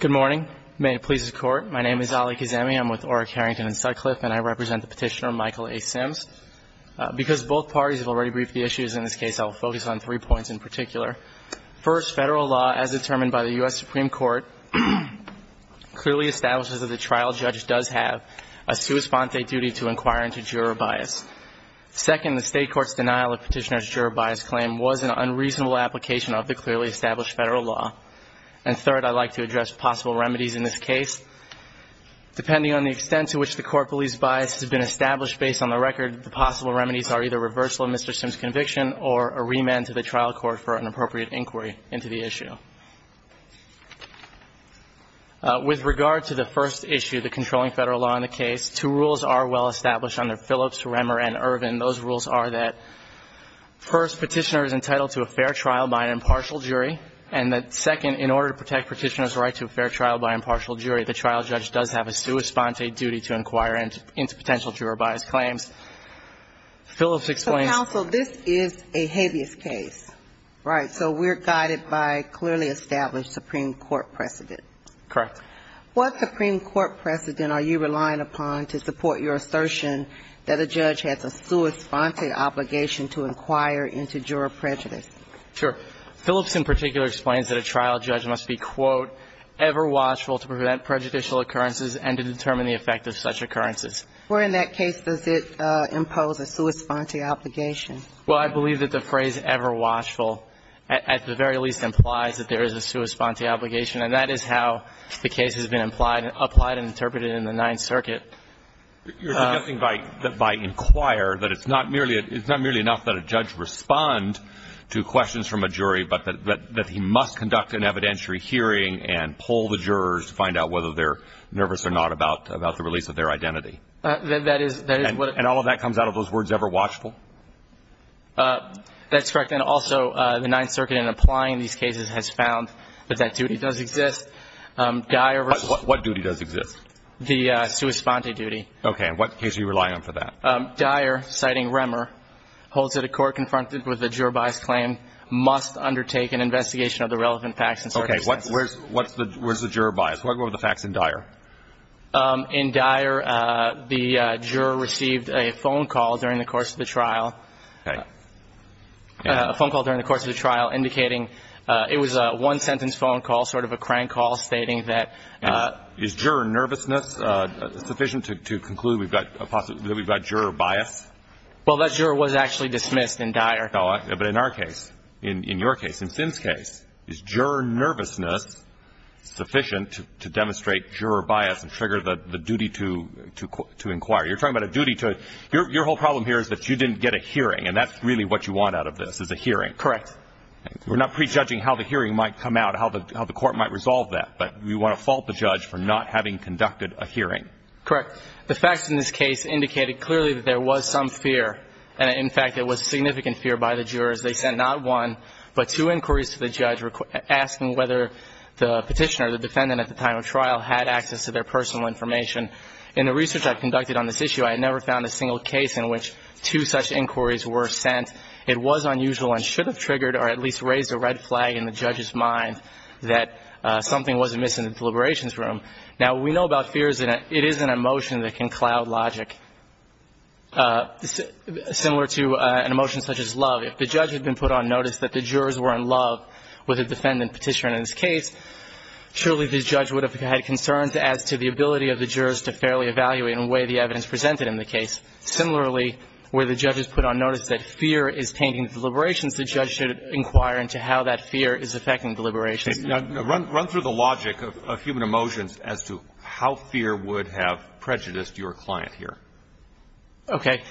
Good morning. May it please the Court. My name is Ali Kazemi. I'm with Orrick, Harrington & Sutcliffe, and I represent the petitioner Michael A. Sims. Because both parties have already briefed the issues in this case, I will focus on three points in particular. First, federal law, as determined by the U.S. Supreme Court, clearly establishes that the trial judge does have a sua sponte duty to inquire into juror bias. Second, the state court's denial of petitioner's juror bias claim was an unreasonable application of the clearly established federal law. And third, I'd like to address possible remedies in this case. Depending on the extent to which the court believes bias has been established based on the record, the possible remedies are either reversal of Mr. Sims' conviction or a remand to the trial court for an appropriate inquiry into the issue. With regard to the first issue, the controlling federal law in the case, two rules are well established under Phillips, Remmer, and Ervin. Those rules are that, first, petitioner is entitled to a fair trial by an impartial jury, and that, second, in order to protect petitioner's right to a fair trial by an impartial jury, the trial judge does have a sua sponte duty to inquire into potential juror bias claims. Phillips explains... Counsel, this is a habeas case. Right. So we're guided by clearly established Supreme Court precedent. Correct. What Supreme Court precedent are you relying upon to support your assertion that a judge has a sua sponte obligation to inquire into juror prejudice? Sure. Phillips in particular explains that a trial judge must be, quote, ever watchful to prevent prejudicial occurrences and to determine the effect of such occurrences. Where in that case does it impose a sua sponte obligation? Well, I believe that the phrase ever watchful at the very least implies that there is a sua sponte obligation, and that is how the case has been applied and interpreted in the Ninth Circuit. You're suggesting by inquire that it's not merely enough that a judge respond to questions from a jury, but that he must conduct an evidentiary hearing and poll the jurors to find out whether they're nervous or not about the release of their identity? That is what it is. And all of that comes out of those words ever watchful? That's correct. And also the Ninth Circuit in applying these cases has found that that duty does exist. What duty does exist? The sua sponte duty. Okay. And what case are you relying on for that? Dyer, citing Remmer, holds that a court confronted with a juror-biased claim must undertake an investigation of the relevant facts and circumstances. Okay. Where's the juror bias? What were the facts in Dyer? In Dyer, the juror received a phone call during the course of the trial. Okay. A phone call during the course of the trial indicating it was a one-sentence phone call, sort of a crank call, Is juror nervousness sufficient to conclude that we've got juror bias? Well, that juror was actually dismissed in Dyer. But in our case, in your case, in Finn's case, is juror nervousness sufficient to demonstrate juror bias and trigger the duty to inquire? You're talking about a duty to – your whole problem here is that you didn't get a hearing, and that's really what you want out of this, is a hearing. Correct. We're not prejudging how the hearing might come out, how the court might resolve that, but we want to fault the judge for not having conducted a hearing. Correct. The facts in this case indicated clearly that there was some fear, and, in fact, it was significant fear by the jurors. They sent not one but two inquiries to the judge asking whether the petitioner, the defendant at the time of trial, had access to their personal information. In the research I conducted on this issue, I had never found a single case in which two such inquiries were sent. It was unusual and should have triggered or at least raised a red flag in the judge's mind that something wasn't missing in the deliberations room. Now, we know about fears, and it is an emotion that can cloud logic. Similar to an emotion such as love, if the judge had been put on notice that the jurors were in love with a defendant petitioner in this case, surely the judge would have had concerns as to the ability of the jurors to fairly evaluate and weigh the evidence presented in the case. Similarly, where the judge is put on notice that fear is tainting the deliberations, the judge should inquire into how that fear is affecting deliberations. Now, run through the logic of human emotions as to how fear would have prejudiced your client here. Okay.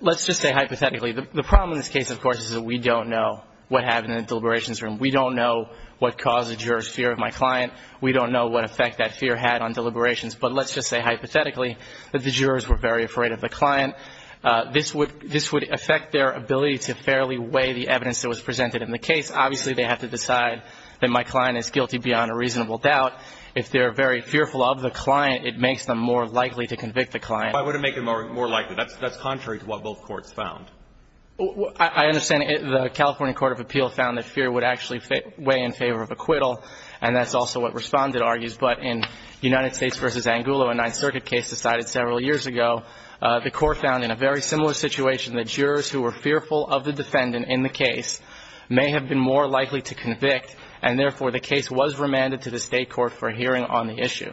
Let's just say hypothetically. The problem in this case, of course, is that we don't know what happened in the deliberations room. We don't know what caused the jurors' fear of my client. We don't know what effect that fear had on deliberations. But let's just say hypothetically that the jurors were very afraid of the client. This would affect their ability to fairly weigh the evidence that was presented in the case. Obviously, they have to decide that my client is guilty beyond a reasonable doubt. If they're very fearful of the client, it makes them more likely to convict the client. Why would it make them more likely? That's contrary to what both courts found. I understand the California Court of Appeal found that fear would actually weigh in favor of acquittal, and that's also what Respondent argues. But in United States v. Angulo, a Ninth Circuit case decided several years ago, the Court found in a very similar situation that jurors who were fearful of the defendant in the case may have been more likely to convict, and therefore the case was remanded to the State court for hearing on the issue.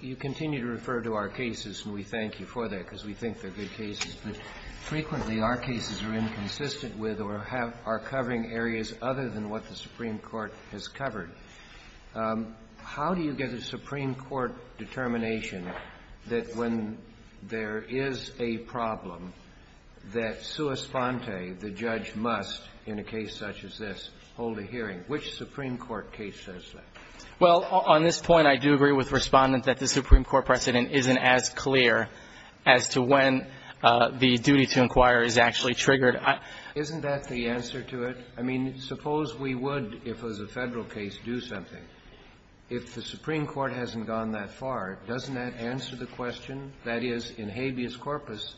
You continue to refer to our cases, and we thank you for that because we think they're good cases. But frequently, our cases are inconsistent with or are covering areas other than what the Supreme Court has covered. How do you get a Supreme Court determination that when there is a problem, that sua sponte, the judge must, in a case such as this, hold a hearing? Which Supreme Court case says that? Well, on this point, I do agree with Respondent that the Supreme Court precedent isn't as clear as to when the duty to inquire is actually triggered. Isn't that the answer to it? I mean, suppose we would, if it was a Federal case, do something. If the Supreme Court hasn't gone that far, doesn't that answer the question? That is, in habeas corpus,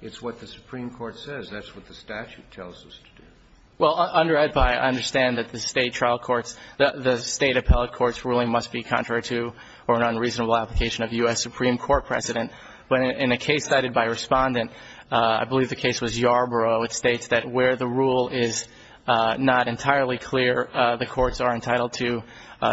it's what the Supreme Court says. That's what the statute tells us to do. Well, under EDPA, I understand that the State trial courts, the State appellate court's ruling must be contrary to or an unreasonable application of U.S. Supreme Court precedent. But in a case cited by Respondent, I believe the case was Yarborough, it states that where the rule is not entirely clear, the courts are entitled to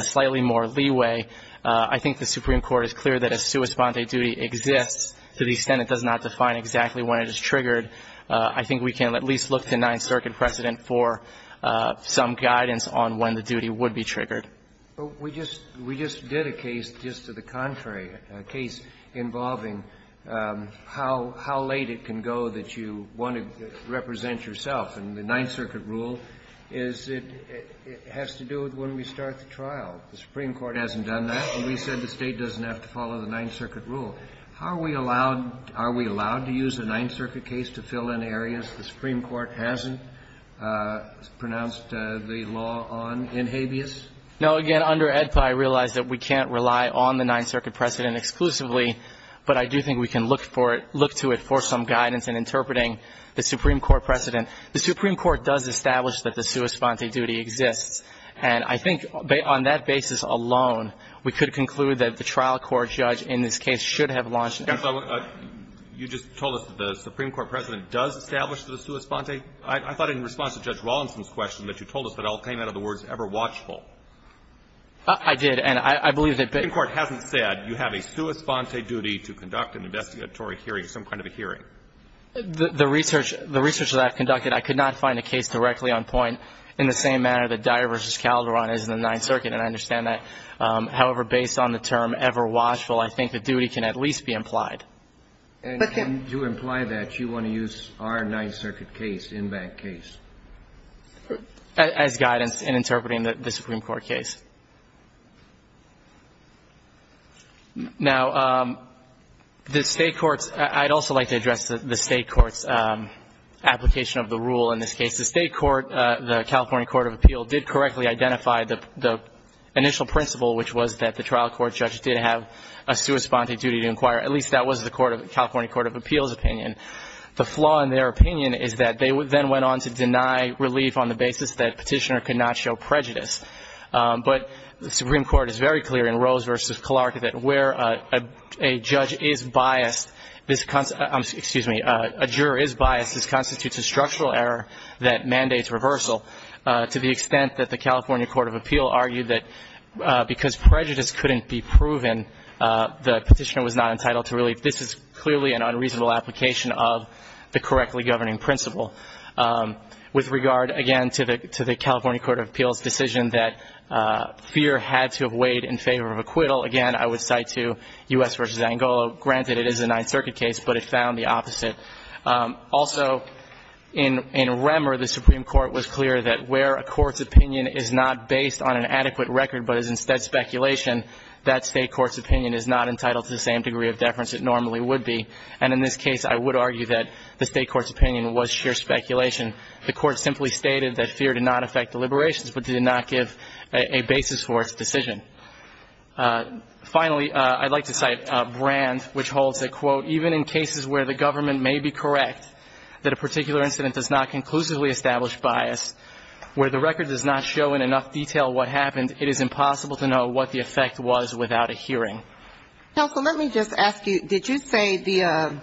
slightly more leeway. I think the Supreme Court is clear that a sua sponte duty exists to the extent it does not define exactly when it is triggered. I think we can at least look to Ninth Circuit precedent for some guidance on when the duty would be triggered. But we just did a case just to the contrary, a case involving how late it can go that you want to represent yourself. And the Ninth Circuit rule is it has to do with when we start the trial. The Supreme Court hasn't done that, and we said the State doesn't have to follow the Ninth Circuit rule. How are we allowed to use a Ninth Circuit case to fill in areas the Supreme Court hasn't pronounced the law on in habeas? No. Again, under AEDPA, I realize that we can't rely on the Ninth Circuit precedent exclusively, but I do think we can look for it, look to it for some guidance in interpreting the Supreme Court precedent. The Supreme Court does establish that the sua sponte duty exists, and I think on that basis alone, we could conclude that the trial court judge in this case should have launched an action. You just told us that the Supreme Court precedent does establish the sua sponte. I thought in response to Judge Rawlinson's question that you told us that all came out of the words ever watchful. I did, and I believe that the Supreme Court hasn't said you have a sua sponte duty to conduct an investigatory hearing, some kind of a hearing. The research that I've conducted, I could not find a case directly on point in the same manner that Dyer v. Calderon is in the Ninth Circuit, and I understand However, based on the term ever watchful, I think the duty can at least be implied. And to imply that, you want to use our Ninth Circuit case, in that case? As guidance in interpreting the Supreme Court case. Now, the State courts, I'd also like to address the State courts' application of the rule in this case. The State court, the California Court of Appeal, did correctly identify the initial principle, which was that the trial court judge did have a sua sponte duty to inquire. At least that was the California Court of Appeal's opinion. The flaw in their opinion is that they then went on to deny relief on the basis that Petitioner could not show prejudice. But the Supreme Court is very clear in Rose v. Clark that where a judge is biased, excuse me, a juror is biased, this constitutes a structural error that mandates reversal to the extent that the California Court of Appeal argued that because prejudice couldn't be proven, the Petitioner was not entitled to relief. This is clearly an unreasonable application of the correctly governing principle. With regard, again, to the California Court of Appeal's decision that fear had to have weighed in favor of acquittal, again, I would cite to U.S. v. Angolo. Granted, it is a Ninth Circuit case, but it found the opposite. Also, in Remmer, the Supreme Court was clear that where a court's opinion is not based on an adequate record but is instead speculation, that state court's opinion is not entitled to the same degree of deference it normally would be. And in this case, I would argue that the state court's opinion was sheer speculation. The court simply stated that fear did not affect deliberations but did not give a basis for its decision. Finally, I'd like to cite Brand, which holds that, quote, even in cases where the government may be correct, that a particular incident does not conclusively establish bias, where the record does not show in enough detail what happened, it is impossible to know what the effect was without a hearing. Counsel, let me just ask you, did you say the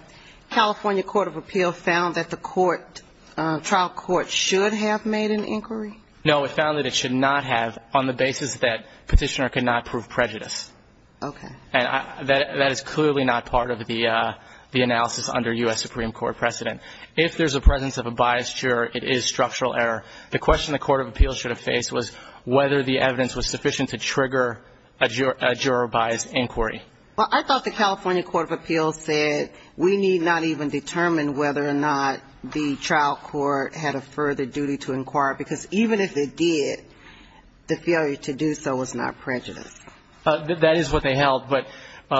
California Court of Appeal found that the court, trial court, should have made an inquiry? No, it found that it should not have on the basis that Petitioner could not prove prejudice. Okay. And that is clearly not part of the analysis under U.S. Supreme Court precedent. If there's a presence of a biased juror, it is structural error. The question the Court of Appeal should have faced was whether the evidence was sufficient to trigger a juror-biased inquiry. Well, I thought the California Court of Appeal said we need not even determine whether or not the trial court had a further duty to inquire, because even if it did, the failure to do so was not prejudice. That is what they held. But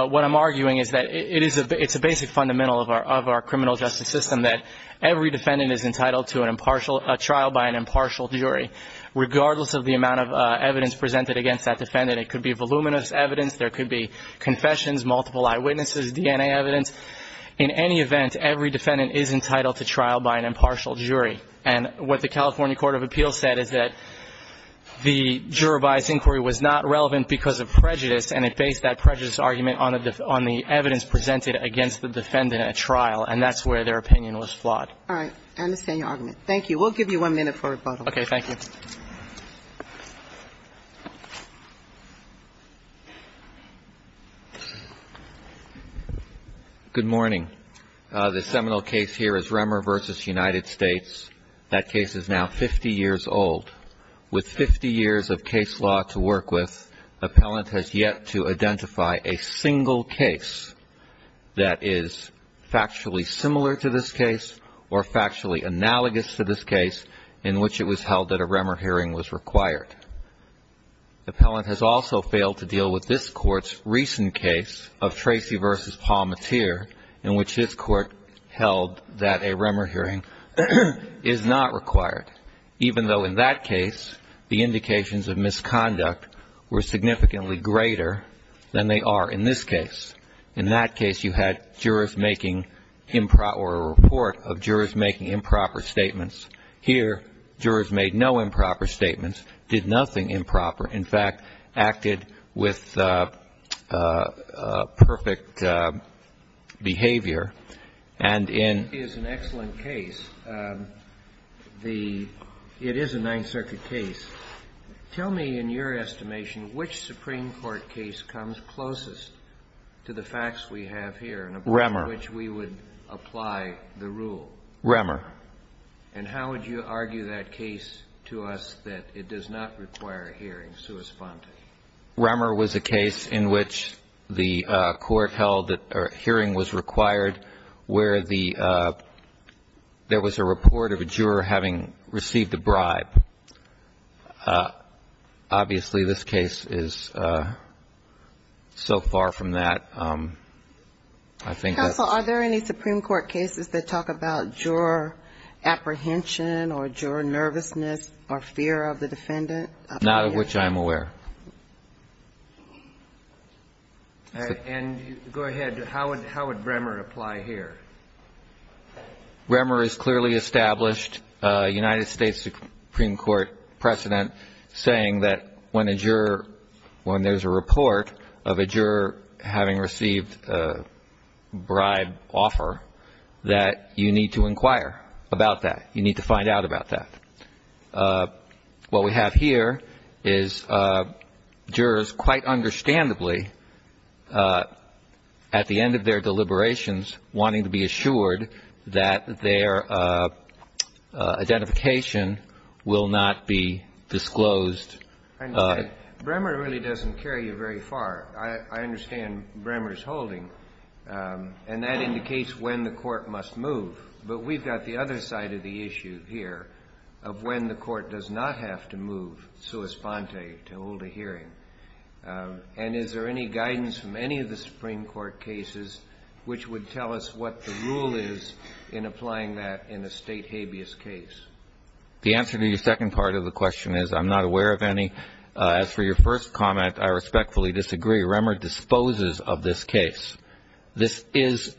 what I'm arguing is that it's a basic fundamental of our criminal justice system, that every defendant is entitled to a trial by an impartial jury, regardless of the amount of evidence presented against that defendant. It could be voluminous evidence. There could be confessions, multiple eyewitnesses, DNA evidence. In any event, every defendant is entitled to trial by an impartial jury. And what the California Court of Appeal said is that the juror-biased inquiry was not relevant because of prejudice, and it based that prejudice argument on the evidence presented against the defendant at trial, and that's where their opinion was flawed. All right. I understand your argument. Thank you. We'll give you one minute for rebuttal. Okay. Thank you. Good morning. The seminal case here is Remmer v. United States. That case is now 50 years old. With 50 years of case law to work with, appellant has yet to identify a single case that is factually similar to this case or factually analogous to this case in which it was held that a Remmer hearing was required. Appellant has also failed to deal with this Court's recent case of Tracy v. Palmateer, in which this Court held that a Remmer hearing is not required, even though in that case the indications of misconduct were significantly greater than they are in this case. In that case, you had jurors making improper or a report of jurors making improper statements. Here, jurors made no improper statements, did nothing improper. In fact, acted with perfect behavior. This is an excellent case. It is a Ninth Circuit case. Tell me, in your estimation, which Supreme Court case comes closest to the facts we have here in which we would apply the rule? Remmer. Remmer. And how would you argue that case to us that it does not require a hearing? Remmer was a case in which the Court held that a hearing was required, where there was a report of a juror having received a bribe. Obviously, this case is so far from that. Counsel, are there any Supreme Court cases that talk about juror apprehension or juror nervousness or fear of the defendant? Not of which I'm aware. And go ahead. How would Remmer apply here? Remmer has clearly established a United States Supreme Court precedent saying that when a juror, when there's a report of a juror having received a bribe offer, that you need to inquire about that. You need to find out about that. What we have here is jurors, quite understandably, at the end of their deliberations wanting to be assured that their identification will not be disclosed. I understand. Remmer really doesn't carry you very far. I understand Remmer's holding. And that indicates when the Court must move. But we've got the other side of the issue here of when the Court does not have to move sua sponte, to hold a hearing. And is there any guidance from any of the Supreme Court cases which would tell us what the rule is in applying that in a State habeas case? The answer to your second part of the question is I'm not aware of any. As for your first comment, I respectfully disagree. Remmer disposes of this case. This is,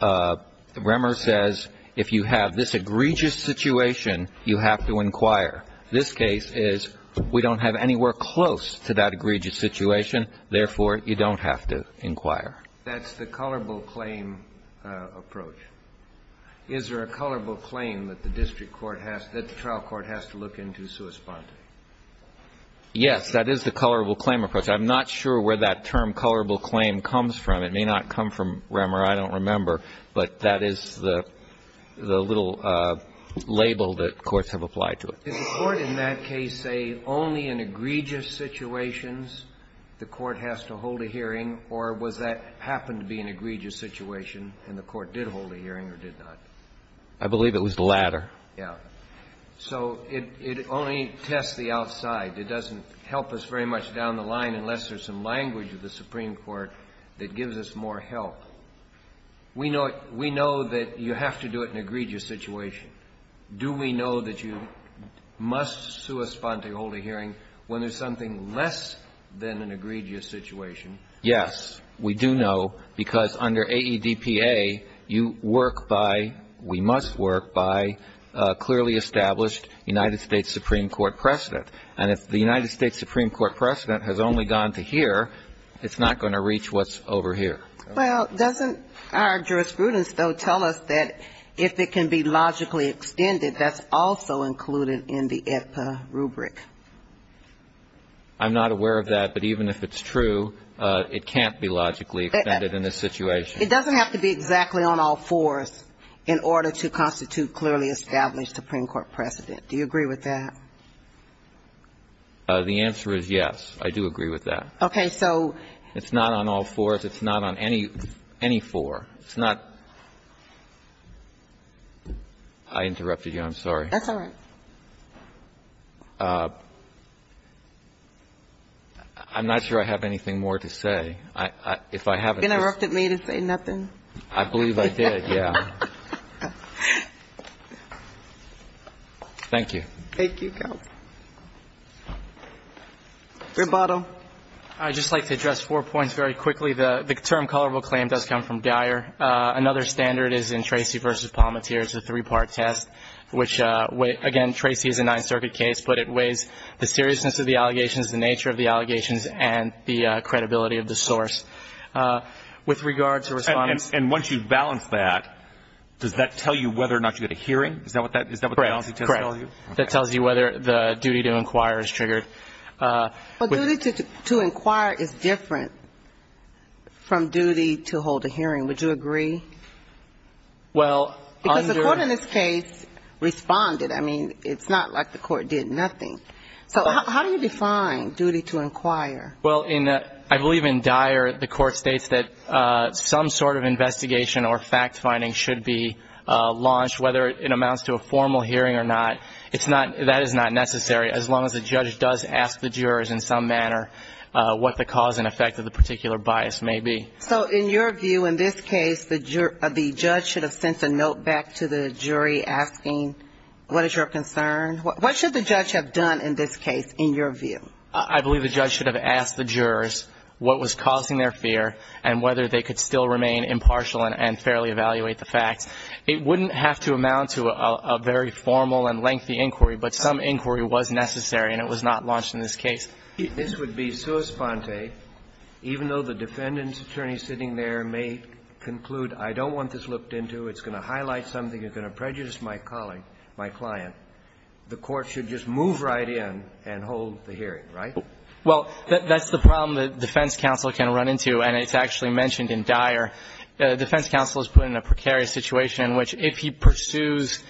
Remmer says, if you have this egregious situation, you have to inquire. This case is, we don't have anywhere close to that egregious situation. Therefore, you don't have to inquire. That's the colorable claim approach. Is there a colorable claim that the district court has, that the trial court has to look into sua sponte? Yes, that is the colorable claim approach. I'm not sure where that term, colorable claim, comes from. It may not come from Remmer. I don't remember. But that is the little label that courts have applied to it. Does the Court in that case say only in egregious situations the Court has to hold a hearing, or was that happened to be an egregious situation and the Court did hold a hearing or did not? I believe it was the latter. Yes. So it only tests the outside. It doesn't help us very much down the line unless there's some language of the Supreme Court that gives us more help. We know that you have to do it in an egregious situation. Do we know that you must sua sponte hold a hearing when there's something less than an egregious situation? Yes, we do know, because under AEDPA, you work by, we must work by clearly established United States Supreme Court precedent. And if the United States Supreme Court precedent has only gone to here, it's not going to reach what's over here. Well, doesn't our jurisprudence, though, tell us that if it can be logically extended, that's also included in the AEDPA rubric? I'm not aware of that. But even if it's true, it can't be logically extended in this situation. It doesn't have to be exactly on all fours in order to constitute clearly established Supreme Court precedent. Do you agree with that? The answer is yes. I do agree with that. Okay. So. It's not on all fours. It's not on any four. It's not. I interrupted you. I'm sorry. That's all right. I'm not sure I have anything more to say. If I haven't just. You interrupted me to say nothing. I believe I did, yeah. Thank you. Thank you, Counsel. Rebotto. I'd just like to address four points very quickly. The term colorable claim does come from Dyer. Another standard is in Tracy v. Palmateer. It's a three-part test, which, again, Tracy is a Ninth Circuit case, but it weighs the seriousness of the allegations, the nature of the allegations, and the credibility of the source. With regard to response. And once you balance that, does that tell you whether or not you get a hearing? Is that what the balancing test tells you? That tells you whether the duty to inquire is triggered. But duty to inquire is different from duty to hold a hearing. Would you agree? Well, under. Because the court in this case responded. I mean, it's not like the court did nothing. So how do you define duty to inquire? Well, I believe in Dyer, the court states that some sort of investigation or fact-finding should be launched, whether it amounts to a formal hearing or not. That is not necessary, as long as the judge does ask the jurors in some manner what the cause and effect of the particular bias may be. So in your view, in this case, the judge should have sent a note back to the jury asking what is your concern? What should the judge have done in this case, in your view? I believe the judge should have asked the jurors what was causing their fear and whether they could still remain impartial and fairly evaluate the facts. It wouldn't have to amount to a very formal and lengthy inquiry, but some inquiry was necessary and it was not launched in this case. This would be sua sponte, even though the defendant's attorney sitting there may conclude, I don't want this looked into, it's going to highlight something, it's going to prejudice my colleague, my client. The court should just move right in and hold the hearing, right? Well, that's the problem that defense counsel can run into and it's actually mentioned in Dyer. Defense counsel is put in a precarious situation in which if he pursues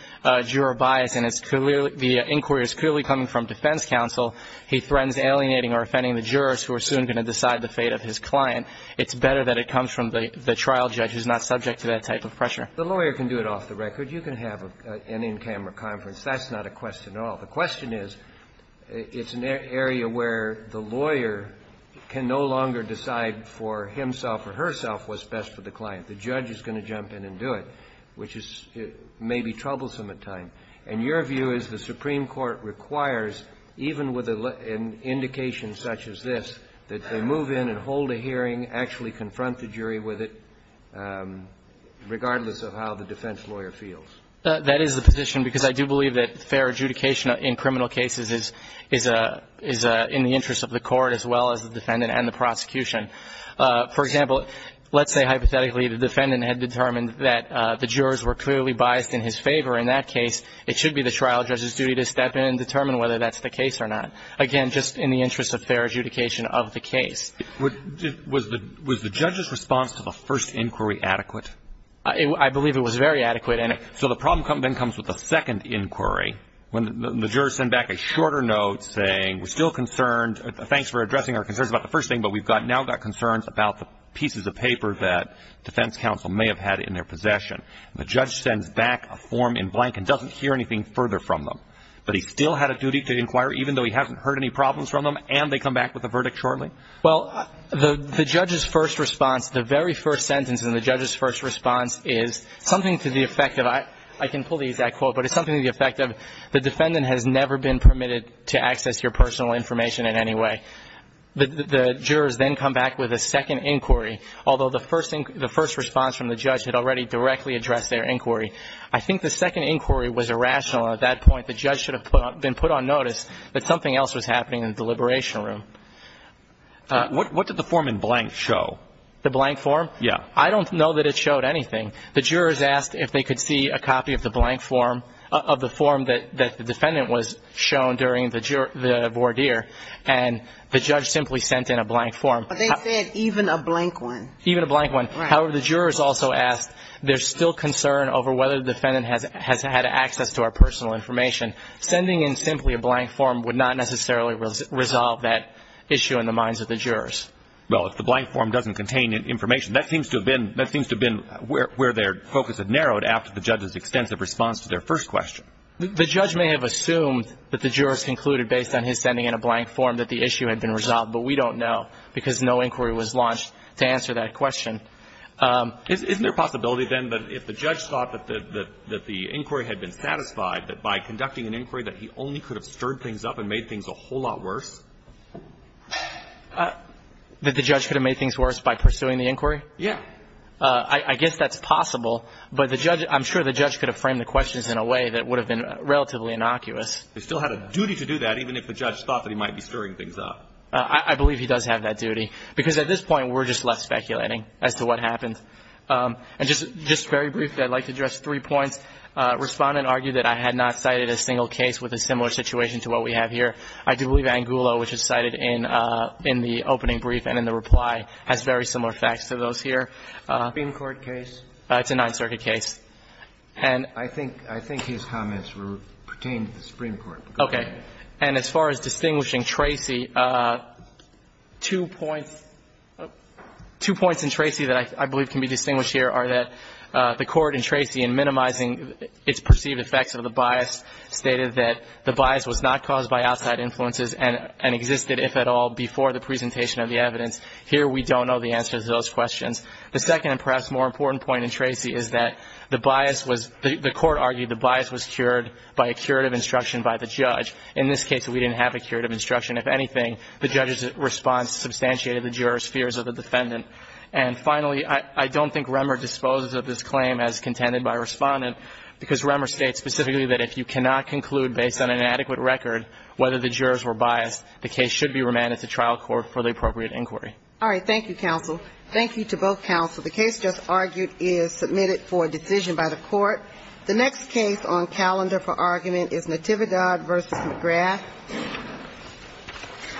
juror bias and the inquiry is clearly coming from defense counsel, he threatens alienating or offending the jurors who are soon going to decide the fate of his client. It's better that it comes from the trial judge who's not subject to that type of pressure. The lawyer can do it off the record. You can have an in-camera conference. That's not a question at all. The question is, it's an area where the lawyer can no longer decide for himself or herself what's best for the client. The judge is going to jump in and do it, which is maybe troublesome at times. And your view is the Supreme Court requires, even with an indication such as this, that they move in and hold a hearing, actually confront the jury with it, regardless of how the defense lawyer feels. That is the position, because I do believe that fair adjudication in criminal cases is in the interest of the court as well as the defendant and the prosecution. For example, let's say hypothetically the defendant had determined that the jurors were clearly biased in his favor. In that case, it should be the trial judge's duty to step in and determine whether that's the case or not. Again, just in the interest of fair adjudication of the case. Was the judge's response to the first inquiry adequate? I believe it was very adequate. So the problem then comes with the second inquiry, when the jurors send back a shorter note saying we're still concerned, thanks for addressing our concerns about the first thing, but we've now got concerns about the pieces of paper that defense counsel may have had in their possession. The judge sends back a form in blank and doesn't hear anything further from them. But he still had a duty to inquire, even though he hasn't heard any problems from them, and they come back with a verdict shortly? Well, the judge's first response, the very first sentence in the judge's first response is something to the effect of, I can pull the exact quote, but it's something to the effect of the defendant has never been permitted to access your personal information in any way. The jurors then come back with a second inquiry, although the first response from the judge had already directly addressed their inquiry. I think the second inquiry was irrational. At that point, the judge should have been put on notice that something else was happening in the deliberation room. What did the form in blank show? The blank form? Yeah. I don't know that it showed anything. The jurors asked if they could see a copy of the blank form, of the form that the defendant was shown during the voir dire, and the judge simply sent in a blank form. But they said even a blank one. Even a blank one. Right. However, the jurors also asked, there's still concern over whether the defendant has had access to our personal information. Sending in simply a blank form would not necessarily resolve that issue in the minds of the jurors. Well, if the blank form doesn't contain information, that seems to have been where their focus had narrowed after the judge's extensive response to their first question. The judge may have assumed that the jurors concluded based on his sending in a blank form that the issue had been resolved, but we don't know because no inquiry was launched to answer that question. Isn't there a possibility, then, that if the judge thought that the inquiry had been satisfied, that by conducting an inquiry that he only could have stirred things up and made things a whole lot worse? That the judge could have made things worse by pursuing the inquiry? Yeah. I guess that's possible, but I'm sure the judge could have framed the questions in a way that would have been relatively innocuous. He still had a duty to do that, even if the judge thought that he might be stirring things up. I believe he does have that duty, because at this point we're just left speculating as to what happened. And just very briefly, I'd like to address three points. First, Respondent argued that I had not cited a single case with a similar situation to what we have here. I do believe Angulo, which is cited in the opening brief and in the reply, has very similar facts to those here. Supreme Court case? It's a Ninth Circuit case. And I think his comments pertain to the Supreme Court. Okay. And as far as distinguishing Tracy, two points in Tracy that I believe can be distinguished here are that the Court in Tracy, in minimizing its perceived effects of the bias, stated that the bias was not caused by outside influences and existed, if at all, before the presentation of the evidence. Here we don't know the answer to those questions. The second and perhaps more important point in Tracy is that the bias was, the Court argued the bias was cured by a curative instruction by the judge. In this case, we didn't have a curative instruction. If anything, the judge's response substantiated the juror's fears of the defendant. And finally, I don't think Remmer disposes of this claim as contended by Respondent, because Remmer states specifically that if you cannot conclude based on an adequate record whether the jurors were biased, the case should be remanded to trial court for the appropriate inquiry. All right. Thank you, counsel. Thank you to both counsel. The case just argued is submitted for decision by the Court. The next case on calendar for argument is Natividad v. McGrath. Thank you.